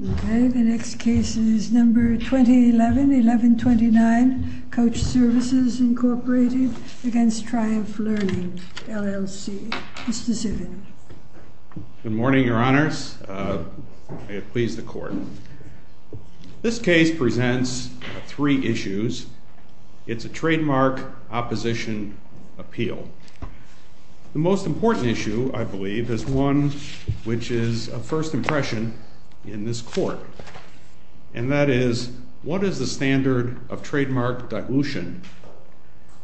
Okay, the next case is number 2011-1129, COACH SERVICES, Incorporated v. TRIUMPH LEARNING, LLC. Mr. Zivin. Good morning, Your Honors. May it please the Court. This case presents three issues. It's a trademark opposition appeal. The most important issue, I believe, is one which is a first impression in this Court, and that is, what is the standard of trademark dilution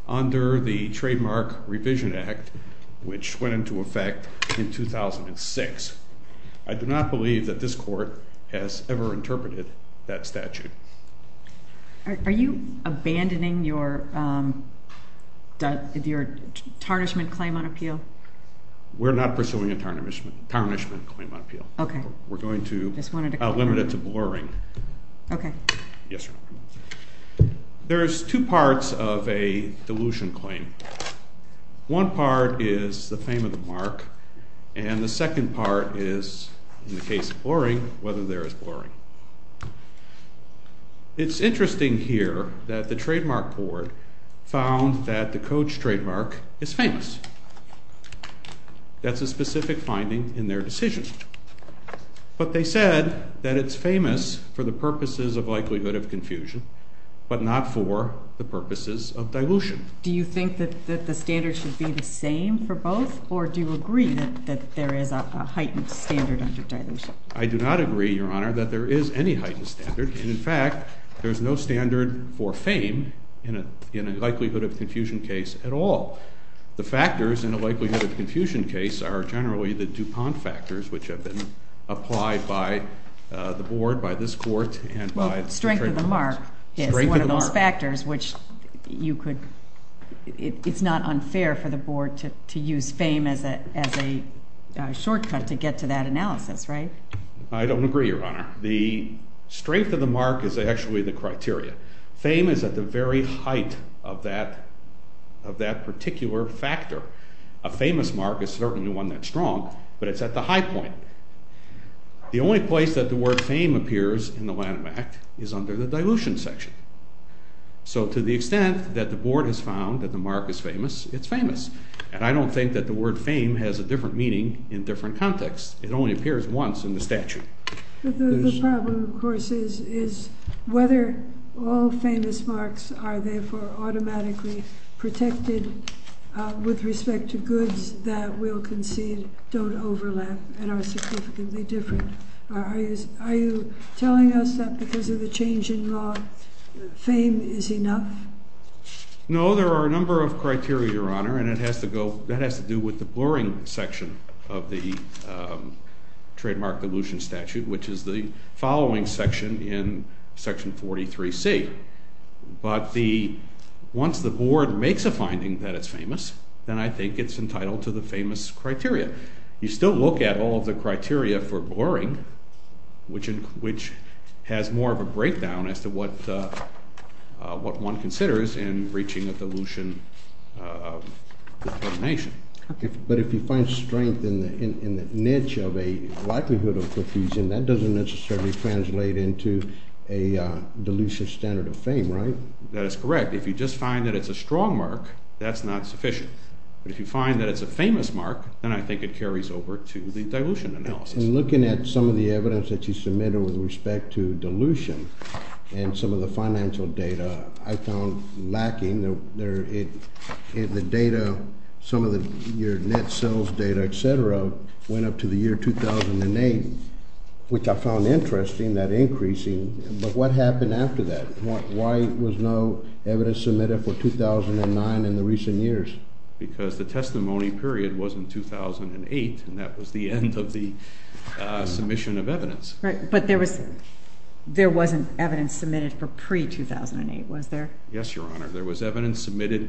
under the Trademark Revision Act, which went into effect in 2006? I do not believe that this Court has ever interpreted that statute. Are you abandoning your tarnishment claim on appeal? We're not pursuing a tarnishment claim on appeal. We're going to limit it to blurring. Okay. Yes, Your Honor. There's two parts of a dilution claim. One part is the fame of the mark, and the second part is, in the case of blurring, whether there is blurring. It's interesting here that the Trademark Board found that the COACH trademark is famous. That's a specific finding in their decision. But they said that it's famous for the purposes of likelihood of confusion, but not for the purposes of dilution. Do you think that the standard should be the same for both, or do you agree that there is a heightened standard under dilution? I do not agree, Your Honor, that there is any heightened standard, and in fact, there's no standard for fame in a likelihood of confusion case at all. The factors in a likelihood of confusion case are generally the DuPont factors, which have been applied by the board, by this court, and by... Well, strength of the mark is one of those factors, which you could... It's not unfair for the board to use fame as a shortcut to get to that analysis, right? I don't agree, Your Honor. The strength of the mark is actually the criteria. Fame is at the very height of that particular factor. A famous mark is certainly one that's strong, but it's at the high point. The only place that the word fame appears in the Lanham Act is under the dilution section. So to the extent that the board has found that the mark is famous, it's famous. And I don't think that the word fame has a different meaning in different contexts. It only appears once in the statute. The problem, of course, is whether all famous marks are therefore automatically protected with respect to goods that we'll concede don't overlap and are significantly different. Are you telling us that because of the change in law, fame is enough? No, there are a number of criteria, Your Honor, and it has to go... That has to do with the blurring section of the trademark dilution statute, which is the following section in Section 43C. But once the board makes a finding that it's famous, then I think it's entitled to the famous criteria. You still look at all of the criteria for blurring, which has more of a breakdown as to what one considers in breaching a dilution determination. Okay, but if you find strength in the niche of a likelihood of profusion, that doesn't necessarily translate into a dilution standard of fame, right? That is correct. If you just find that it's a strong mark, that's not sufficient. But if you find that it's a famous mark, then I think it carries over to the dilution analysis. And looking at some of the evidence that you submitted with respect to dilution and some of the financial data, I found lacking. The data, some of your net sales data, et cetera, went up to the year 2008, which I found interesting, that increasing. But what happened after that? Why was no evidence submitted for 2009 in the recent years? Because the testimony period was in 2008, and that was the end of the submission of evidence. Right. But there wasn't evidence submitted for pre 2008, was there? Yes, Your Honor. There was evidence submitted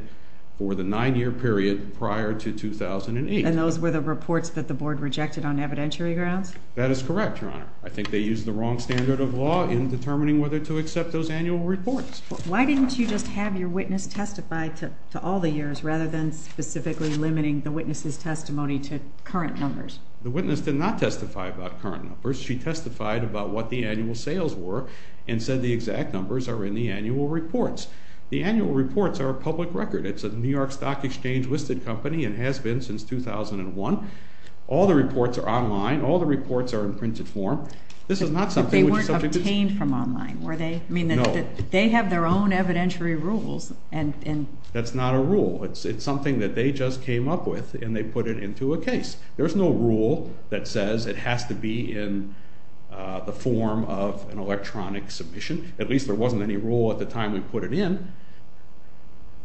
for the nine year period prior to 2008. And those were the reports that the board rejected on evidentiary grounds? That is correct, Your Honor. I think they used the wrong standard of law in determining whether to accept those annual reports. Why didn't you just have your witness testify to all the years rather than specifically limiting the witness's testimony to current numbers? The witness did not testify about current numbers. She testified about what the annual sales were and said the exact numbers are in the annual reports. The annual reports are a public record. It's a New York Stock Exchange listed company and has been since 2001. All the reports are online. All the reports are in printed form. This is not something which is subject to... But they weren't obtained from online, were they? No. I mean, they have their own evidentiary rules. That's not a rule. It's something that they just came up with and they put it into a case. There's no rule that says it has to be in the form of an electronic submission. At least there wasn't any rule at the time we put it in.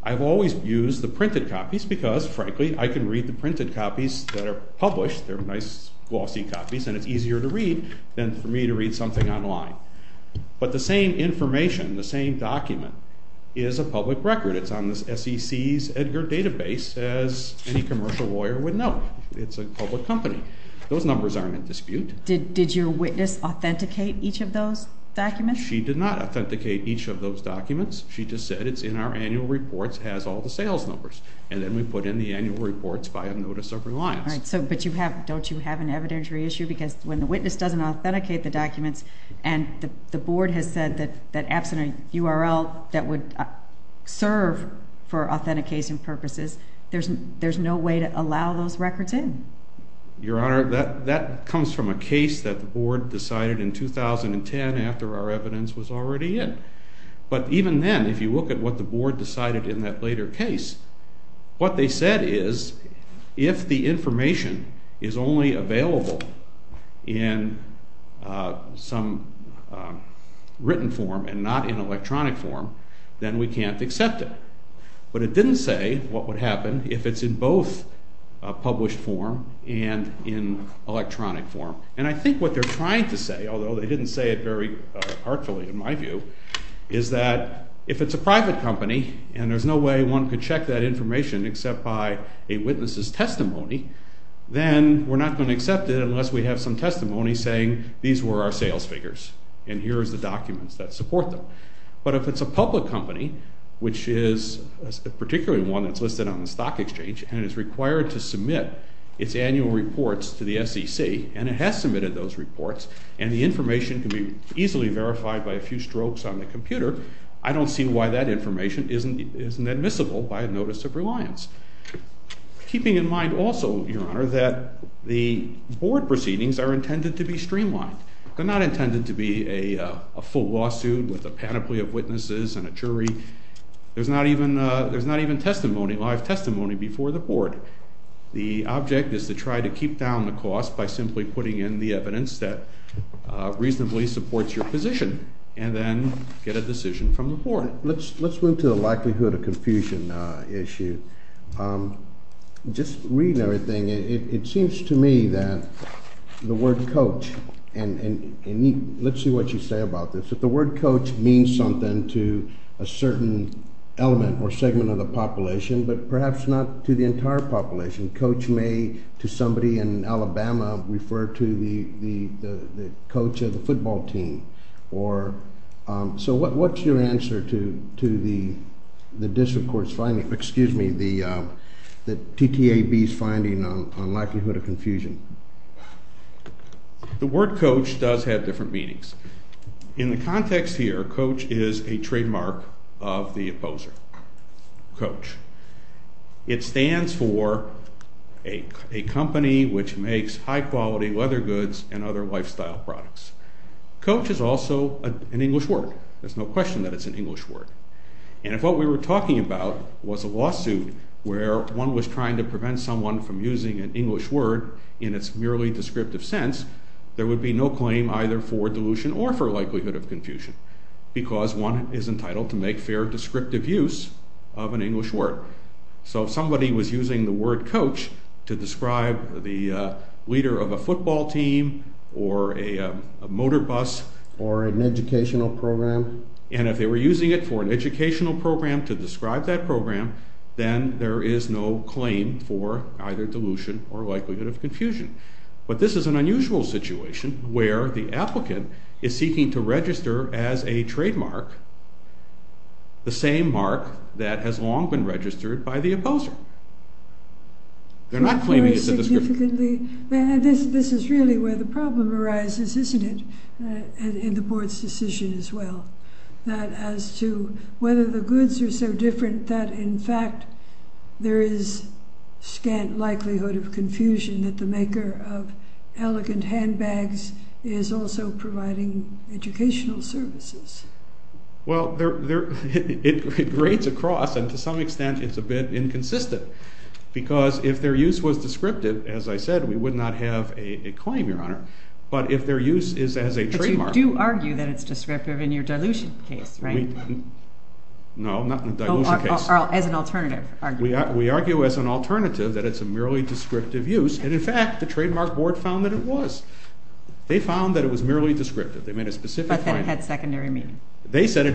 I've always used the printed copies because, frankly, I can read the printed copies that are published. They're nice, glossy copies and it's easier to read than for me to read something online. But the same information, the same document is a public record. It's on the SEC's Edgar Database, as any commercial lawyer would know. It's a public company. Those numbers aren't in dispute. Did your witness authenticate each of those documents? She did not authenticate each of those documents. She just said it's in our annual reports, has all the sales numbers. And then we put in the annual reports by a notice of reliance. Right. But don't you have an evidentiary issue? Because when the witness doesn't authenticate the documents and the Board has said that absent a URL that would serve for authentication purposes, there's no way to allow those records in. Your Honor, that comes from a case that the Board decided in 2010 after our evidence was already in. But even then, if you look at what the Board decided in that later case, what they said is, if the information is only available in some written form and not in electronic form, then we can't accept it. But it didn't say what would happen if it's in both published form and in electronic form. And I think what they're trying to say, although they didn't say it very artfully in my view, is that if it's a private company and there's no way one could check that information except by a witness's testimony, then we're not gonna accept it unless we have some testimony saying, these were our sales figures and here's the documents that support them. But if it's a public company, which is particularly one that's listed on the Stock Exchange and is required to submit its annual reports to the SEC, and it has submitted those on the computer, I don't see why that information isn't admissible by a notice of reliance. Keeping in mind also, Your Honor, that the Board proceedings are intended to be streamlined. They're not intended to be a full lawsuit with a panoply of witnesses and a jury. There's not even testimony, live testimony before the Board. The object is to try to keep down the cost by simply putting in the evidence that you can get a decision from the Board. Let's move to the likelihood of confusion issue. Just reading everything, it seems to me that the word coach, and let's see what you say about this, that the word coach means something to a certain element or segment of the population, but perhaps not to the entire population. Coach may, to somebody in Alabama, refer to the coach of the football team, or... So what's your answer to the district court's finding, excuse me, the TTAB's finding on likelihood of confusion? The word coach does have different meanings. In the context here, coach is a trademark of the opposer. Coach. It stands for a company which makes high quality leather goods and other goods. It's also an English word. There's no question that it's an English word. And if what we were talking about was a lawsuit where one was trying to prevent someone from using an English word in its merely descriptive sense, there would be no claim either for dilution or for likelihood of confusion because one is entitled to make fair descriptive use of an English word. So if somebody was using the word coach to describe the leader of a football team or a motor bus or an educational program, and if they were using it for an educational program to describe that program, then there is no claim for either dilution or likelihood of confusion. But this is an unusual situation where the applicant is seeking to register as a trademark, the same mark that has long been registered by the opposer. They're not claiming it's a descriptive... Very significantly. This is really where the problem arises, isn't it, in the board's decision as well, that as to whether the goods are so different that, in fact, there is scant likelihood of confusion that the maker of elegant handbags is also providing educational services. Well, it grades across and to some extent, it's a bit inconsistent because if their use was descriptive, as I said, we would not have a claim, Your Honor, but if their use is as a trademark... But you do argue that it's descriptive in your dilution case, right? No, not in the dilution case. As an alternative argument. We argue as an alternative that it's a merely descriptive use and, in fact, the Trademark Board found that it was. They found that it was merely descriptive. They made a specific claim. But that it had secondary meaning. They said the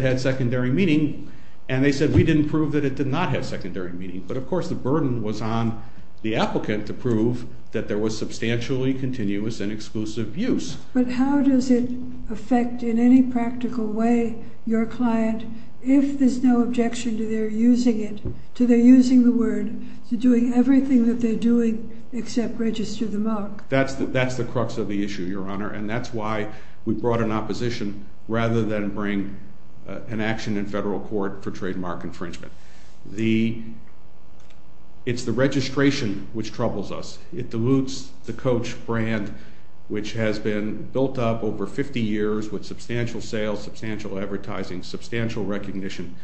burden was on the applicant to prove that there was substantially continuous and exclusive use. But how does it affect in any practical way your client, if there's no objection to their using it, to their using the word, to doing everything that they're doing except register the mark? That's the crux of the issue, Your Honor, and that's why we brought an opposition rather than bring an action in federal court for trademark infringement. It's the registration which troubles us. It dilutes the Coach brand, which has been built up over 50 years with substantial sales, substantial advertising, substantial recognition.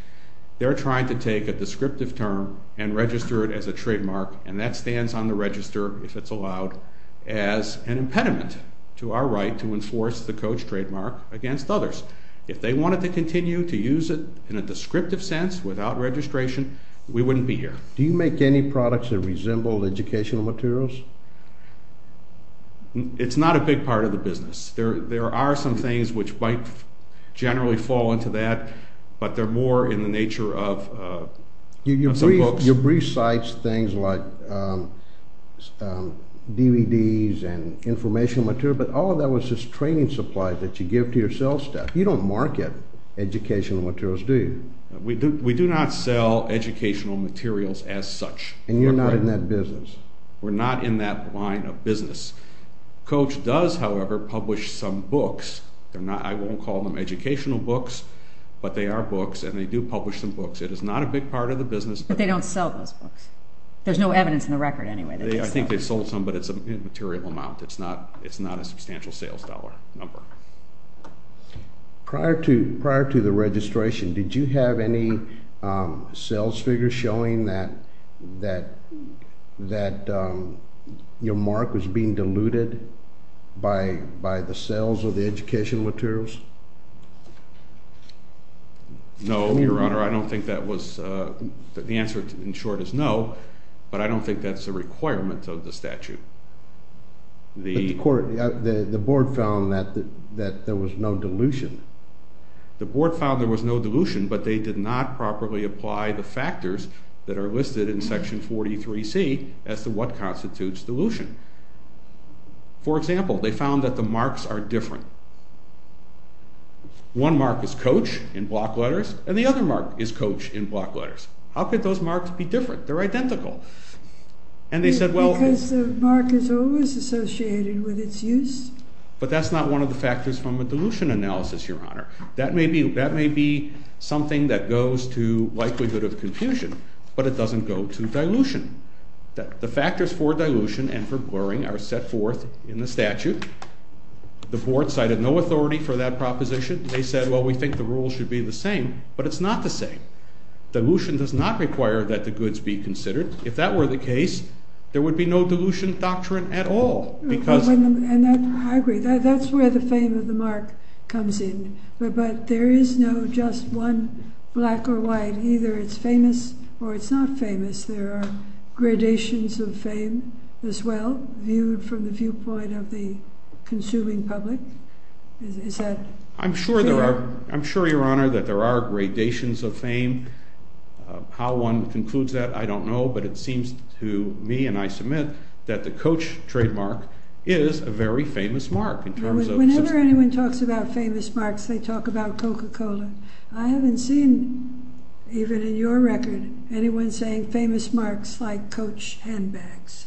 They're trying to take a descriptive term and register it as a trademark, and that stands on the register, if it's allowed, as an impediment to our right to enforce the Coach trademark against others. If they wanted to continue to use it in a descriptive sense without registration, we wouldn't be here. Do you make any products that resemble educational materials? It's not a big part of the business. There are some things which might generally fall into that, but they're more in the nature of some books. You brief sites, things like DVDs and informational material, but all of that was just training supply that you give to your sales staff. You don't market educational materials, do you? We do not sell educational materials as such. And you're not in that business? We're not in that line of business. Coach does, however, publish some books. They're not... I won't call them educational books, but they are books, and they do publish some books. It is not a big part of the business, but... But they don't sell those books. There's no evidence in the record, anyway. I think they sold some, but it's a material amount. It's not a substantial sales dollar number. Prior to the registration, did you have any sales figures showing that your mark was being diluted by the sales of the educational materials? No, Your Honor. I don't think that was... The answer, in short, is no, but I don't think that's a requirement of the statute. The court... The board found that there was no dilution. The board found there was no dilution, but they did not properly apply the factors that are listed in Section 43C as to what constitutes dilution. For example, they found that the marks are different. One mark is coach in block letters, and the other mark is coach in block letters. How could those marks be different? They're identical. And they said, well... Because the mark is always associated with its use. But that's not one of the factors from a dilution analysis, Your Honor. That may be something that goes to likelihood of confusion, but it doesn't go to dilution. The factors for dilution and for blurring are set forth in the statute. The board cited no authority for that proposition. They said, well, we think the rules should be the same, but it's not the same. Dilution does not require that the goods be diluted. There would be no dilution doctrine at all, because... I agree. That's where the fame of the mark comes in. But there is no just one black or white. Either it's famous or it's not famous. There are gradations of fame as well, viewed from the viewpoint of the consuming public. Is that... I'm sure, Your Honor, that there are gradations of fame. How one concludes that, I don't know, but it seems to me, and I submit, that the Coach trademark is a very famous mark in terms of... Whenever anyone talks about famous marks, they talk about Coca Cola. I haven't seen, even in your record, anyone saying famous marks like Coach handbags.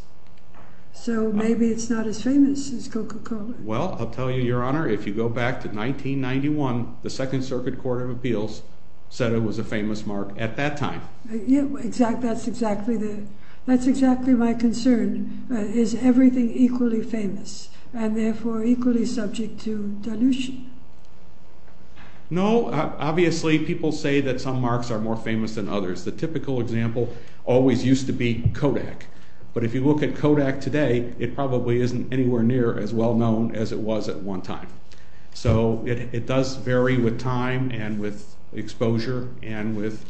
So maybe it's not as famous as Coca Cola. Well, I'll tell you, Your Honor, if you go back to 1991, the Second Circuit Court of Appeals said it was a famous mark at that time. That's exactly my concern. Is everything equally famous and therefore equally subject to dilution? No. Obviously, people say that some marks are more famous than others. The typical example always used to be Kodak. But if you look at Kodak today, it probably isn't anywhere near as well as it was at one time. So it does vary with time and with exposure and with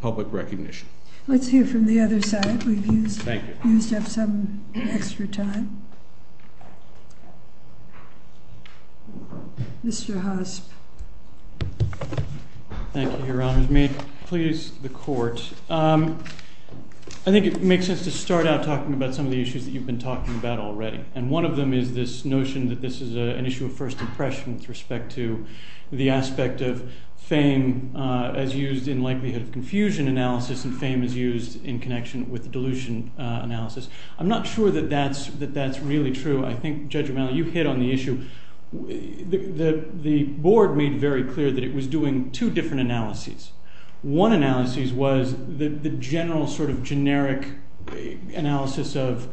public recognition. Let's hear from the other side. We've used up some extra time. Thank you. Mr. Hosp. Thank you, Your Honors. May it please the Court. I think it makes sense to start out talking about some of the issues that you've been talking about already. And one of them is this notion that this is an issue of first impression with respect to the aspect of fame as used in likelihood of confusion analysis and fame as used in connection with dilution analysis. I'm not sure that that's really true. I think, Judge Romano, you hit on the issue. The board made very clear that it was doing two different analyses. One analysis was the general generic analysis of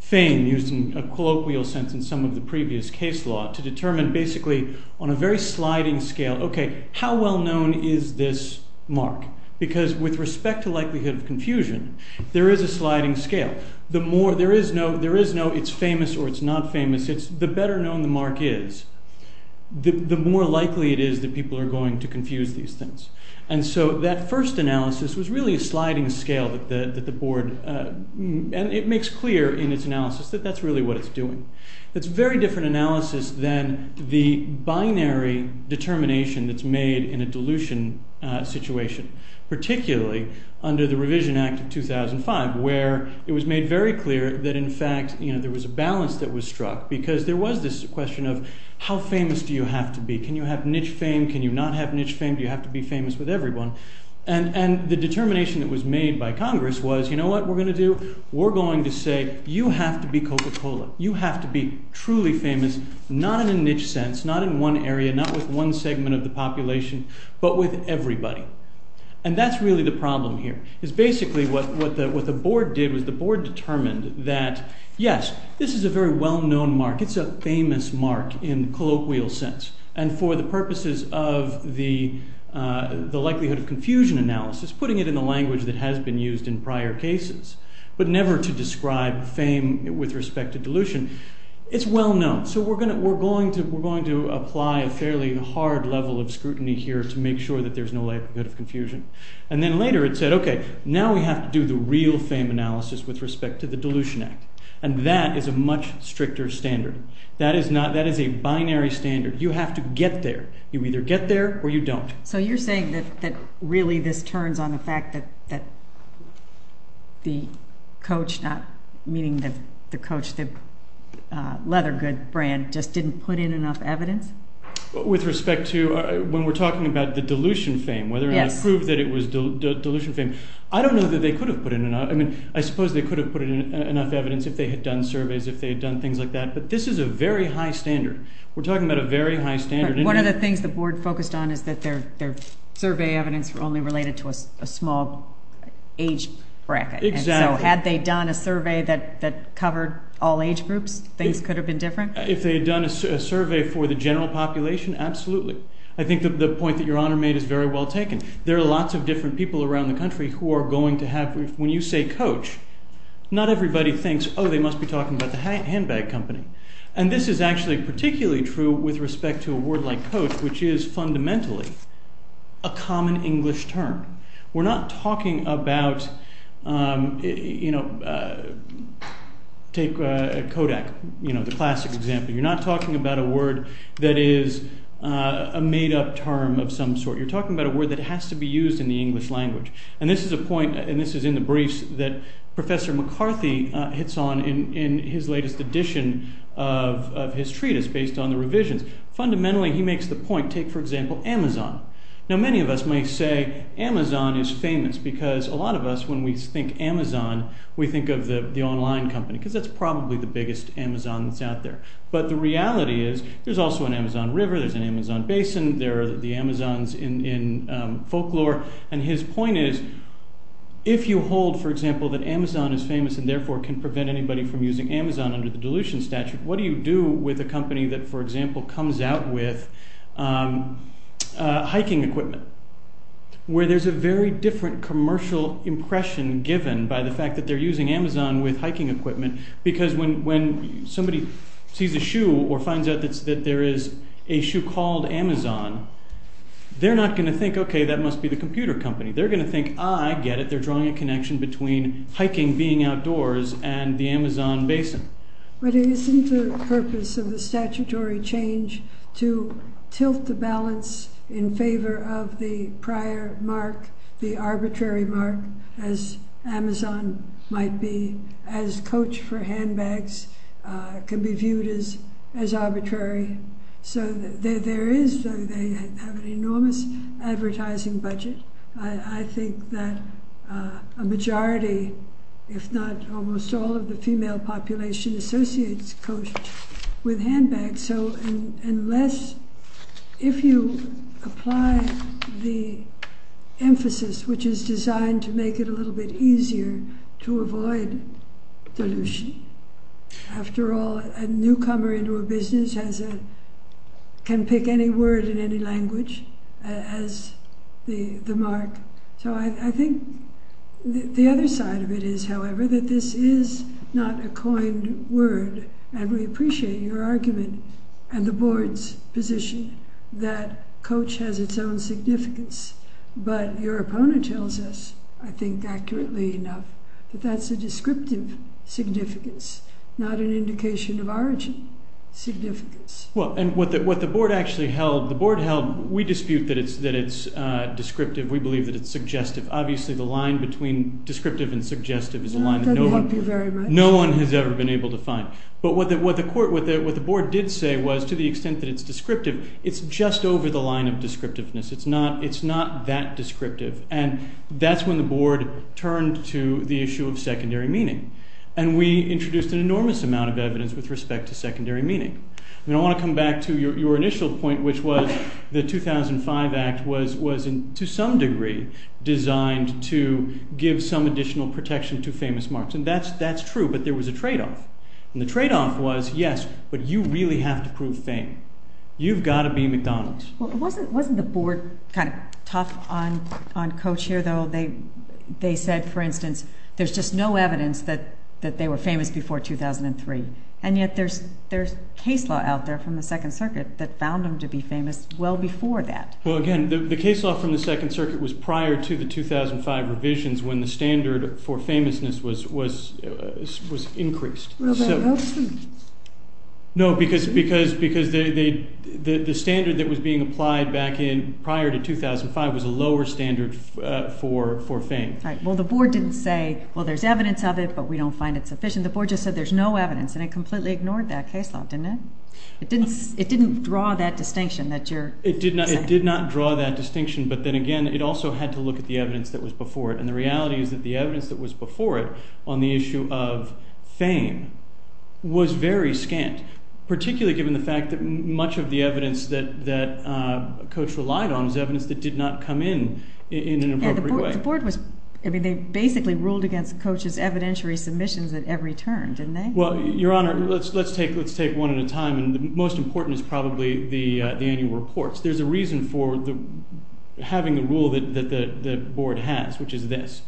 fame used in a colloquial sense in some of the previous case law to determine basically on a very sliding scale, okay, how well known is this mark? Because with respect to likelihood of confusion, there is a sliding scale. The more... There is no it's famous or it's not famous. It's the better known the mark is, the more likely it is that people are going to confuse these things. And so that first analysis was really a sliding scale that the board and it makes clear in its analysis that that's really what it's doing. It's a very different analysis than the binary determination that's made in a dilution situation, particularly under the Revision Act of 2005, where it was made very clear that in fact there was a balance that was struck because there was this question of how famous do you have to be? Can you have niche fame? Can you not have niche fame? Do you have to be famous with everyone? And the determination that was made by Congress was, you know what we're gonna do? We're going to say you have to be Coca Cola. You have to be truly famous, not in a niche sense, not in one area, not with one segment of the population, but with everybody. And that's really the problem here, is basically what the board did was the board determined that, yes, this is a very well known mark. It's a famous mark in colloquial sense. And for the purposes of the likelihood of confusion analysis, putting it in the language that has been used in prior cases, but never to describe fame with respect to dilution, it's well known. So we're going to apply a fairly hard level of scrutiny here to make sure that there's no likelihood of confusion. And then later it said, okay, now we have to do the real fame analysis with respect to the Dilution Act. And that is a much stricter standard. That is a binary standard. You have to get there. You either get there or you don't. So you're saying that really this turns on the fact that the coach, not meaning the coach, the Leather Good brand, just didn't put in enough evidence? With respect to when we're talking about the dilution fame, whether or not it proved that it was dilution fame. I don't know that they could have put in enough. I suppose they could have put in enough evidence if they had done surveys, if they had done things like that. But this is a very high standard. We're talking about a very high standard. One of the things the board focused on is that their survey evidence were only related to a small age bracket. Exactly. And so had they done a survey that covered all age groups, things could have been different? If they had done a survey for the general population, absolutely. I think that the point that Your Honor made is very well taken. There are lots of different people around the country who are going to have... When you say coach, not everybody thinks, oh, they must be talking about the handbag company. And this is actually particularly true with respect to a word like coach, which is fundamentally a common English term. We're not talking about... Take Kodak, the classic example. You're not talking about a word that is a made up term of some sort. You're talking about a word that has to be used in the English language. And this is a point, and this is in the briefs that Professor McCarthy hits on in his latest edition of his treatise based on the revisions. Fundamentally, he makes the point, take for example, Amazon. Now, many of us may say Amazon is famous because a lot of us, when we think Amazon, we think of the online company, because that's probably the biggest Amazon that's out there. But the reality is, there's also an Amazon River, there's an Amazon Basin, there are the Amazons in folklore. And his point is, if you hold, for example, that Amazon is famous and therefore can prevent anybody from using Amazon under the dilution statute, what do you do with a company that, for example, comes out with hiking equipment? Where there's a very different commercial impression given by the fact that they're using Amazon with hiking equipment, because when somebody sees a shoe or finds out that there is a shoe called Amazon, they're not gonna think, okay, that must be the computer company. They're gonna think, I get it, they're drawing a connection between hiking, being outdoors, and the Amazon Basin. But isn't the purpose of the statutory change to tilt the balance in favor of the prior mark, the arbitrary mark, as Amazon might be, as coach for handbags, can be viewed as arbitrary. So there is... They have an enormous advertising budget. I think that a majority, if not almost all of the female population, associates coach with handbags. So unless... If you apply the emphasis, which is designed to make it a little bit easier to avoid dilution. After all, a newcomer into a business can pick any word in any language as the mark. So I think the other side of it is, however, that this is not a coined word, and we appreciate your argument and the board's position that coach has its own significance, but your opponent tells us, I think accurately enough, that that's a descriptive significance, not an indication of origin significance. Well, and what the board actually held... The board held... We dispute that it's descriptive. We believe that it's suggestive. Obviously, the line between descriptive and suggestive is a line that no one... That doesn't help you very much. No one has ever been able to find. But what the board did say was, to the extent that it's descriptive, it's just over the line of descriptiveness. It's not that descriptive. And that's when the board turned to the issue of secondary meaning. And we introduced an enormous amount of evidence with respect to secondary meaning. And I wanna come back to your initial point, which was the 2005 Act was, to some degree, designed to give some additional protection to famous marks. And that's true, but there was a trade off. And the trade off was, yes, but you really have to prove fame. You've gotta be McDonald's. Well, wasn't the board kind of tough on coach here, though? They said, for instance, there's just no evidence that they were famous before 2003. And yet, there's case law out there from the Second Circuit that found them to be famous well before that. Well, again, the case law from the Second Circuit was prior to the 2005 revisions when the standard for famousness was increased. No, because the standard that was being applied back in prior to 2005 was a lower standard for fame. Right. Well, the board didn't say, well, there's evidence of it, but we don't find it sufficient. The board just said, there's no evidence, and it completely ignored that case law, didn't it? It didn't draw that distinction that you're... It did not draw that distinction, but then again, it also had to look at the evidence that was before it. And the reality is that the evidence that was before it on the issue of fame was very scant, particularly given the fact that much of the evidence that a coach relied on was evidence that did not come in in an appropriate way. Yeah, the board was... They basically ruled against coach's evidentiary submissions at every turn, didn't they? Well, Your Honor, let's take one at a time, and the most important is probably the annual reports. There's a reason for having a rule that the board has, which is this.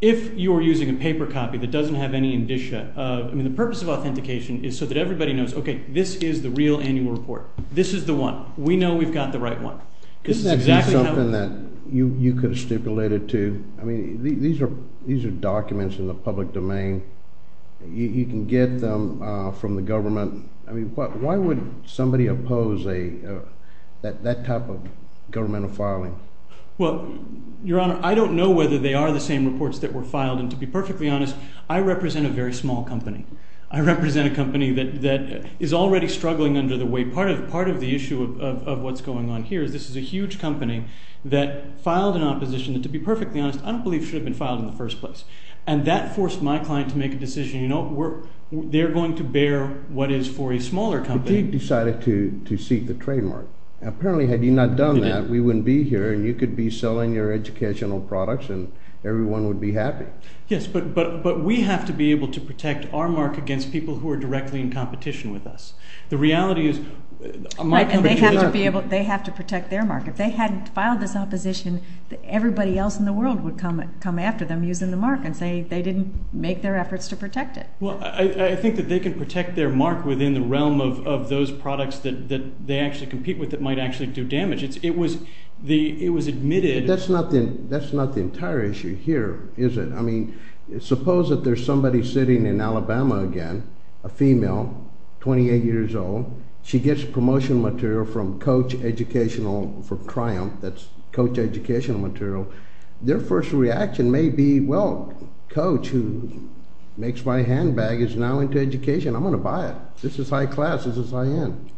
If you're using a paper copy that doesn't have any indicia, the purpose of authentication is so that everybody knows, okay, this is the real annual report. This is the one. We know we've got the right one. This is exactly how... Isn't that something that you could have stipulated too? These are documents in the public domain. You can get them from the government. Why would somebody oppose that type of governmental filing? Well, Your Honor, I don't know whether they are the same reports that were filed, and to be perfectly honest, I represent a very small company. I represent a company that is already struggling under the weight. Part of the issue of what's going on here is this is a huge company that filed an opposition that, to be perfectly honest, I don't believe should have been filed in the first place. And that forced my client to make a decision, they're going to bear what is for a smaller company. But you decided to seek the trademark. Apparently, had you not done that, we wouldn't be here, and you could be selling your educational products and everyone would be happy. Yes, but we have to be able to protect our mark against people who are directly in competition with us. The reality is... They have to protect their mark. If they hadn't filed this opposition, everybody else in the world would come after them using the mark and say they didn't make their efforts to protect it. Well, I think that they can protect their mark within the realm of those products that they actually compete with that might actually do damage. It was admitted... That's not the entire issue here, is it? Suppose that there's somebody sitting in Alabama again, a female, 28 years old, she gets promotion material from Coach Educational for Triumph, that's Coach Educational material, their first reaction may be, well, Coach, who makes my handbag, is now into education, I'm gonna buy it. This is high class, this is high end.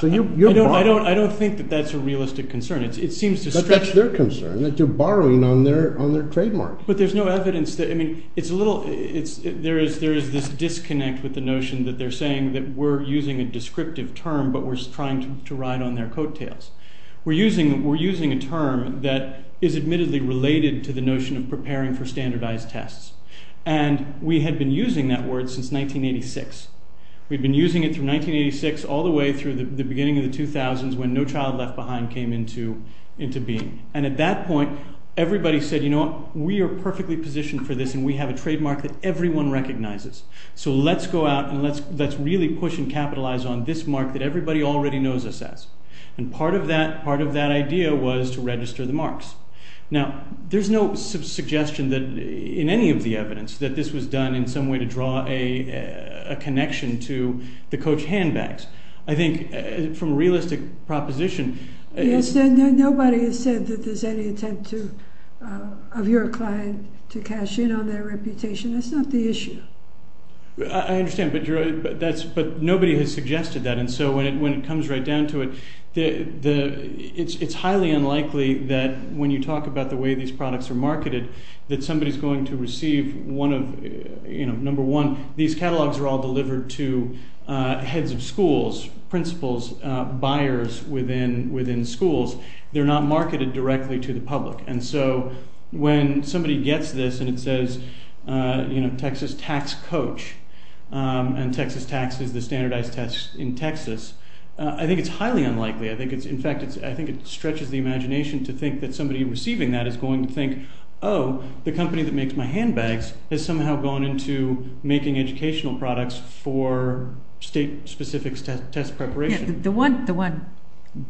I don't think that that's a realistic concern. It seems to stretch... That's their concern, that they're borrowing on their trademark. But there's no evidence that... There is this disconnect with the notion that they're saying that we're using a descriptive term, but we're trying to ride on their coattails. We're using a term that is admittedly related to the notion of preparing for standardized tests. And we had been using that word since 1986. We'd been using it through 1986 all the way through the beginning of the 2000s when No Child Left Behind came into being. And at that point, we were perfectly positioned for this and we have a trademark that everyone recognizes. So let's go out and let's really push and capitalize on this mark that everybody already knows us as. And part of that idea was to register the marks. Now, there's no suggestion that in any of the evidence that this was done in some way to draw a connection to the coach handbags. I think from a realistic proposition... Yes, nobody has said that there's any attempt of your client to cash in on their reputation. That's not the issue. I understand, but nobody has suggested that. And so when it comes right down to it, it's highly unlikely that when you talk about the way these products are marketed, that somebody is going to receive one of... Number one, these catalogs are all delivered to heads of schools, principals, buyers within schools. They're not marketed directly to the public. And so when somebody gets this and it says, Texas Tax Coach, and Texas Tax is the standardized test in Texas, I think it's highly unlikely. In fact, I think it stretches the imagination to think that somebody receiving that is going to think, the company that makes my handbags has somehow gone into making educational products for state specific test preparation. Yeah, the one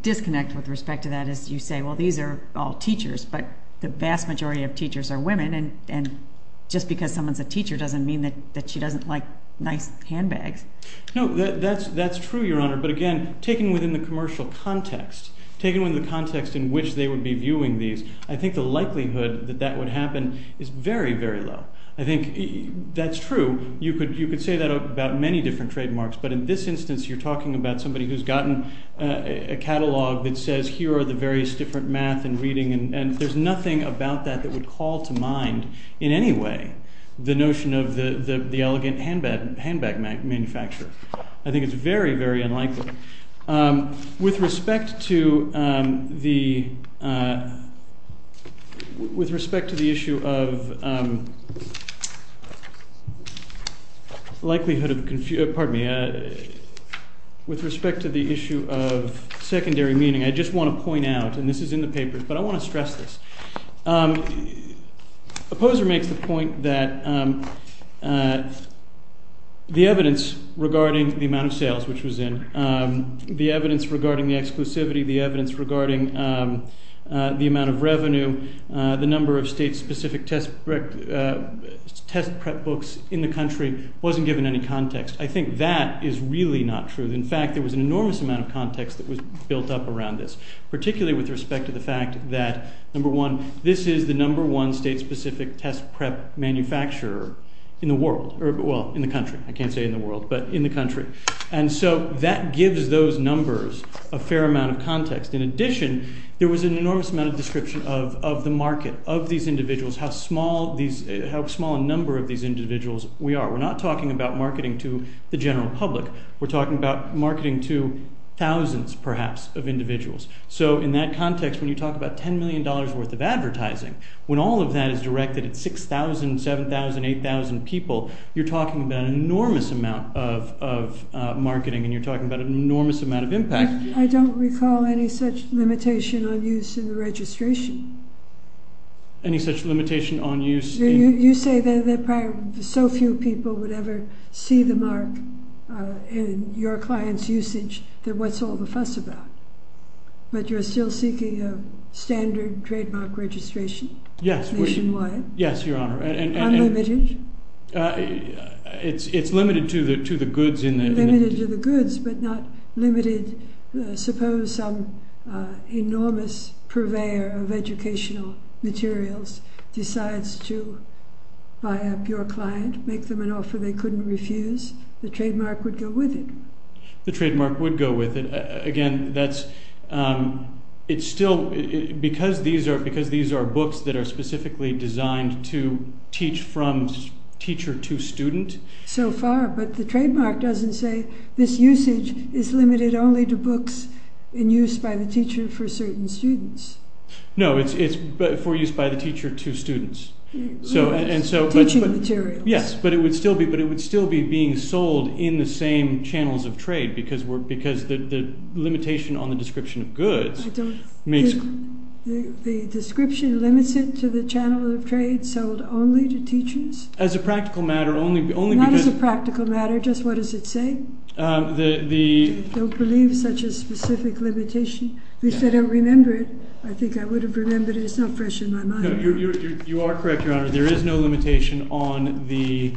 disconnect with respect to that is you say, well, these are all teachers, but the vast majority of teachers are women. And just because someone's a teacher doesn't mean that she doesn't like nice handbags. No, that's true, Your Honor. But again, taken within the commercial context, taken within the context in which they would be viewing these, I think the likelihood that that would happen is very, very low. I think that's true. You could say that about many different trademarks, but in this instance, you're talking about somebody who's gotten a catalog that says, here are the various different math and reading, and there's nothing about that that would call to mind in any way, the notion of the elegant handbag manufacturer. I think it's very, very unlikely. With respect to the issue of likelihood of... Pardon me. With respect to the issue of secondary meaning, I just wanna point out, and this is in the papers, but I wanna stress this. Opposer makes the point that the evidence regarding the amount of sales which was in, the evidence regarding the exclusivity, the evidence regarding the amount of revenue, the number of state specific test prep books in the country wasn't given any context. I think that is really not true. In fact, there was an enormous amount of context that was built up around this, particularly with respect to the fact that, number one, this is the number one state specific test prep manufacturer in the world, or well, in the country. I can't say in the world, but in the country. And so that gives those numbers a fair amount of context. In addition, there was an enormous amount of description of the market, of these individuals, how small these... How small a number of these individuals were in the public. We're talking about marketing to thousands, perhaps, of individuals. So in that context, when you talk about $10 million worth of advertising, when all of that is directed at 6,000, 7,000, 8,000 people, you're talking about an enormous amount of marketing, and you're talking about an enormous amount of impact. I don't recall any such limitation on use in the registration. Any such limitation on use in... You say that probably so few people would ever see the mark in your client's usage, that what's all the fuss about. But you're still seeking a standard trademark registration nationwide? Yes, Your Honor. Unlimited? It's limited to the goods in the... Limited to the goods, but not limited... Suppose some enormous purveyor of educational materials decides to buy up your client, make them an offer they couldn't refuse, the trademark would go with it. The trademark would go with it. Again, that's... It's still... Because these are books that are specifically designed to teach from teacher to student... So far, but the trademark doesn't say, this usage is limited only to books in use by the teacher for certain students. No, it's for use by the teacher to students. Yes, for teaching materials. Yes, but it would still be being sold in the same channels of trade, because the limitation on the description of goods makes... The description limits it to the channel of trade sold only to teachers? As a practical matter, only because... Not as a practical matter, just what does it say? The... I don't believe such a specific limitation. If I don't remember it, I think I would have remembered it. It's not fresh in my mind. No, you are correct, Your Honor. There is no limitation on the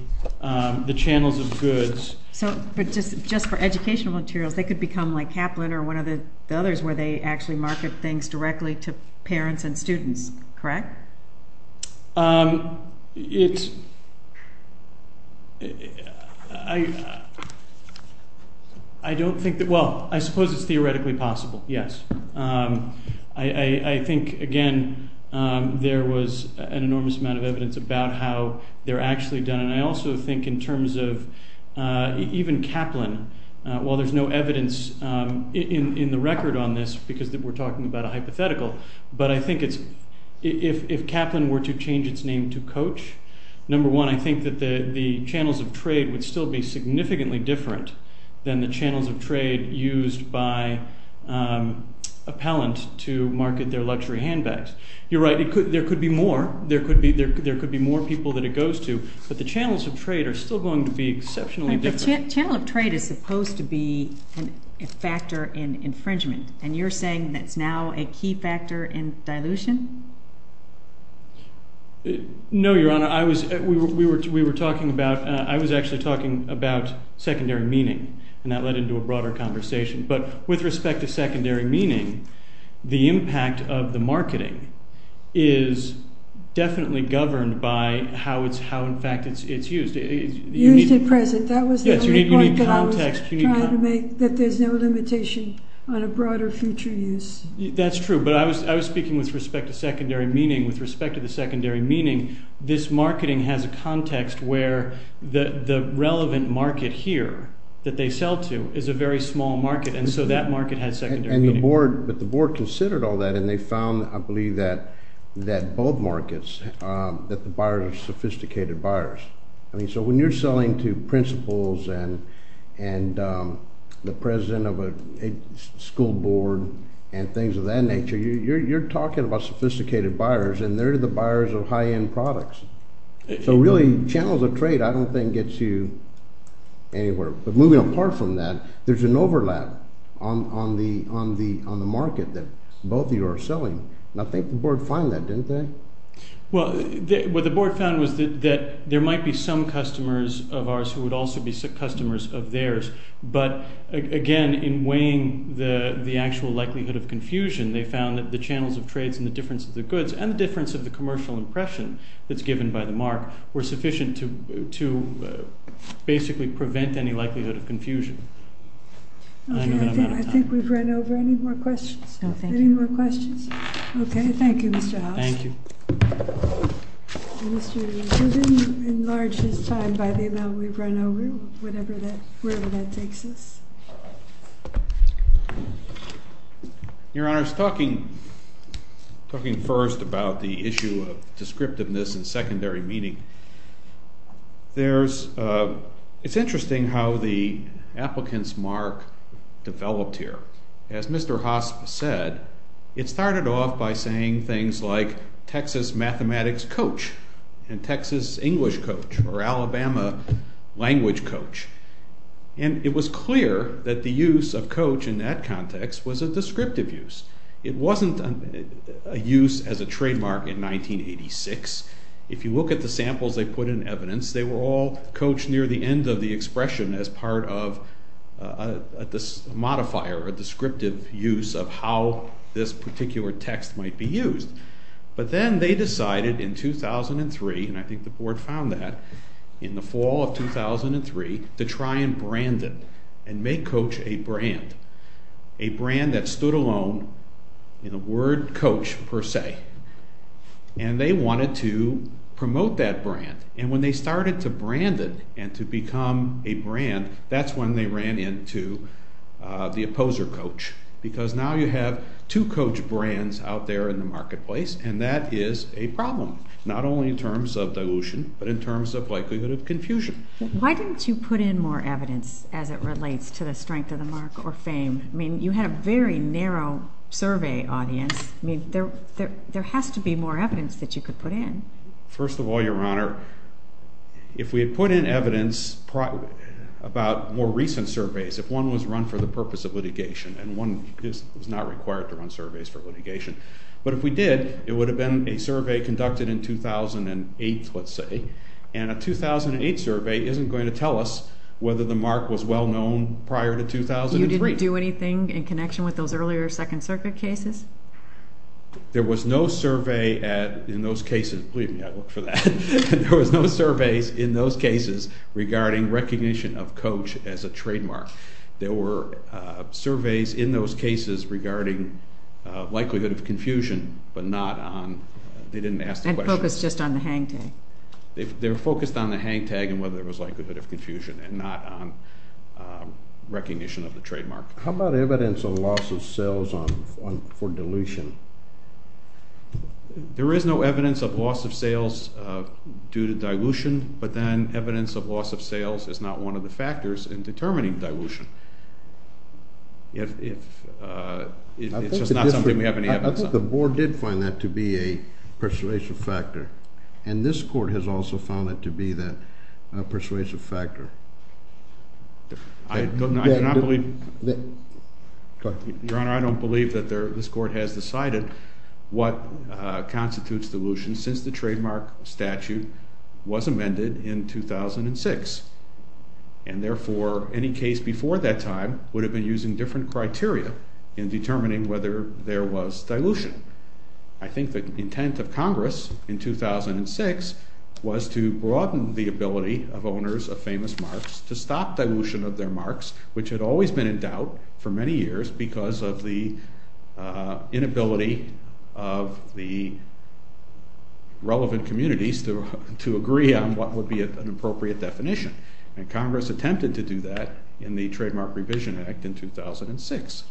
channels of goods. So, but just for educational materials, they could become like Kaplan or one of the others where they actually market things directly to parents and students, correct? I don't think that... Well, I suppose it's theoretically possible, yes. I think, again, there was an enormous amount of evidence about how they're actually done. And I also think in terms of even Kaplan, while there's no evidence in the record on this, because we're talking about a hypothetical, but I think it's... If Kaplan were to change its name to Coach, number one, I think that the channels of trade would still be significantly different than the channels of trade used by appellant to market their luxury handbags. You're right, there could be more. There could be more people that it goes to, but the channels of trade are still going to be exceptionally different. A channel of trade is supposed to be a factor in infringement, and you're saying that's now a key factor in dilution? No, Your Honor. I was... We were talking about... I was actually talking about secondary meaning, and that led into a broader conversation. But with respect to secondary meaning, the impact of the marketing is definitely governed by how, in fact, it's used. Used at present, that was the only point that I was trying to make, that there's no limitation on a broader future use. That's true, but I was speaking with respect to secondary meaning. With respect to the secondary meaning, this marketing has a context where the relevant market here that they sell to is a very small market, and so that market has secondary meaning. And the board, but the board considered all that, and they found, I believe, that both markets, that the buyers are sophisticated buyers. So when you're selling to principals and the president of a school board and things of that nature, you're talking about sophisticated buyers, and they're the buyers of the market. So really, channels of trade, I don't think, gets you anywhere. But moving apart from that, there's an overlap on the market that both of you are selling. And I think the board found that, didn't they? Well, what the board found was that there might be some customers of ours who would also be customers of theirs, but again, in weighing the actual likelihood of confusion, they found that the channels of trades and the difference of the goods, and the difference of the commercial impression that's given by the mark, were sufficient to basically prevent any likelihood of confusion. I think we've run over. Any more questions? No, thank you. Any more questions? Okay. Thank you, Mr. House. Thank you. Mr. Rubin, you've enlarged his time by the amount we've run over, wherever that takes us. Thank you. Your Honor, talking first about the issue of descriptiveness and secondary meaning, it's interesting how the applicant's mark developed here. As Mr. Haas said, it started off by saying things like, Texas mathematics coach, and Texas English coach, or Alabama language coach. And it was clear that the use of coach in that context was a descriptive use. It wasn't a use as a trademark in 1986. If you look at the samples they put in evidence, they were all coached near the end of the expression as part of a modifier, a descriptive use of how this particular text might be used. But then they decided in 2003, and I think the board found that in the fall of 2003, to try and brand it and make coach a brand, a brand that stood alone in the word coach per se. And they wanted to promote that brand. And when they started to brand it and to become a brand, that's when they ran into the opposer coach, because now you have two coach brands out there in the marketplace, and that is a problem, not only in terms of dilution, but in terms of likelihood of confusion. Why didn't you put in more evidence as it relates to the strength of the mark or fame? You had a very narrow survey audience. There has to be more evidence that you could put in. First of all, Your Honor, if we had put in evidence about more recent surveys, if one was run for the purpose of litigation, and one is not required to run surveys for litigation, but if we did, it would have been a survey conducted in 2008, let's say, and a 2008 survey isn't going to tell us whether the mark was well known prior to 2003. You didn't do anything in connection with those earlier Second Circuit cases? There was no survey at... In those cases... Believe me, I looked for that. There was no surveys in those cases regarding recognition of coach as a mark. There was no surveys in those cases regarding likelihood of confusion, but not on... They didn't ask the question. And focus just on the hang tag. They were focused on the hang tag and whether it was likelihood of confusion and not on recognition of the trademark. How about evidence of loss of sales for dilution? There is no evidence of loss of sales due to dilution, but then evidence of loss of sales is not one of the factors in determining dilution. If... It's just not something we have any evidence of. I think the board did find that to be a persuasive factor, and this court has also found it to be that persuasive factor. I do not believe... Go ahead. Your Honor, I don't believe that this court has decided what constitutes dilution since the trademark statute was amended in 2006. And therefore, any case before that time would have been using different criteria in determining whether there was dilution. I think the intent of Congress in 2006 was to broaden the ability of owners of famous marks to stop dilution of their marks, which had always been in doubt for many years because of the inability of the relevant communities to agree on what would be an appropriate definition. And Congress attempted to do that in the Trademark Revision Act in 2006.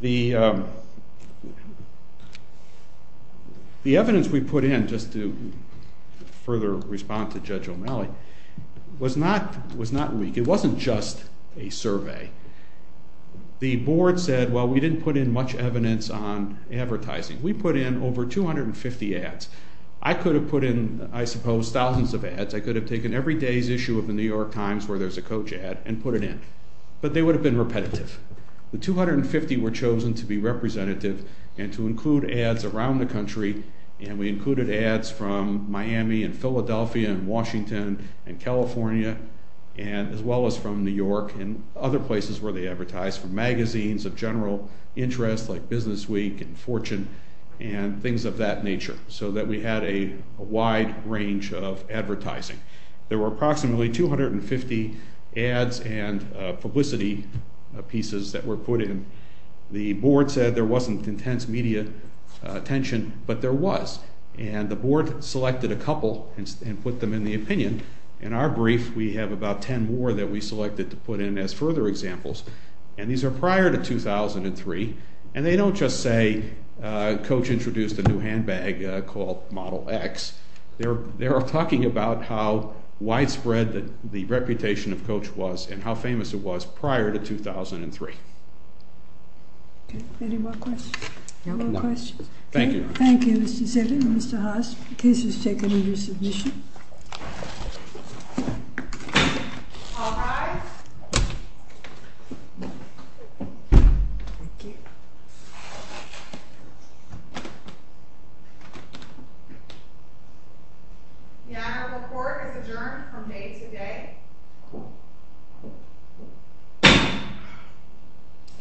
The evidence we put in, just to further respond to Judge O'Malley, was not weak. It wasn't just a survey. The board said, well, we didn't put in much evidence on advertising. We put in over 250 ads. I could have put in, I suppose, thousands of ads. I could have taken every day's issue of the New York Times where there's a coach ad and put it in, but they would have been repetitive. The 250 were chosen to be representative and to include ads around the country, and we included ads from Miami and Philadelphia and Washington and California, as well as from New York and other places where they advertise, from magazines of general interest, like Business Week and Fortune, and things of that nature, so that we had a wide range of advertising. There were approximately 250 ads and publicity pieces that were put in. The board said there wasn't intense media attention, but there was, and the board selected a couple and put them in the opinion. In our brief, we have about 10 more that we selected to put in as further examples, and these are prior to 2003, and they don't just say, coach introduced a new handbag called Model X. They are talking about how widespread the reputation of coach was and how famous it was prior to 2003. Okay. Any more questions? No. No questions. Thank you. Thank you, Mr. Zittin and Mr. Haas. The case is taken under the board's resolution. All rise. Thank you. The honorable court is adjourned from day to day.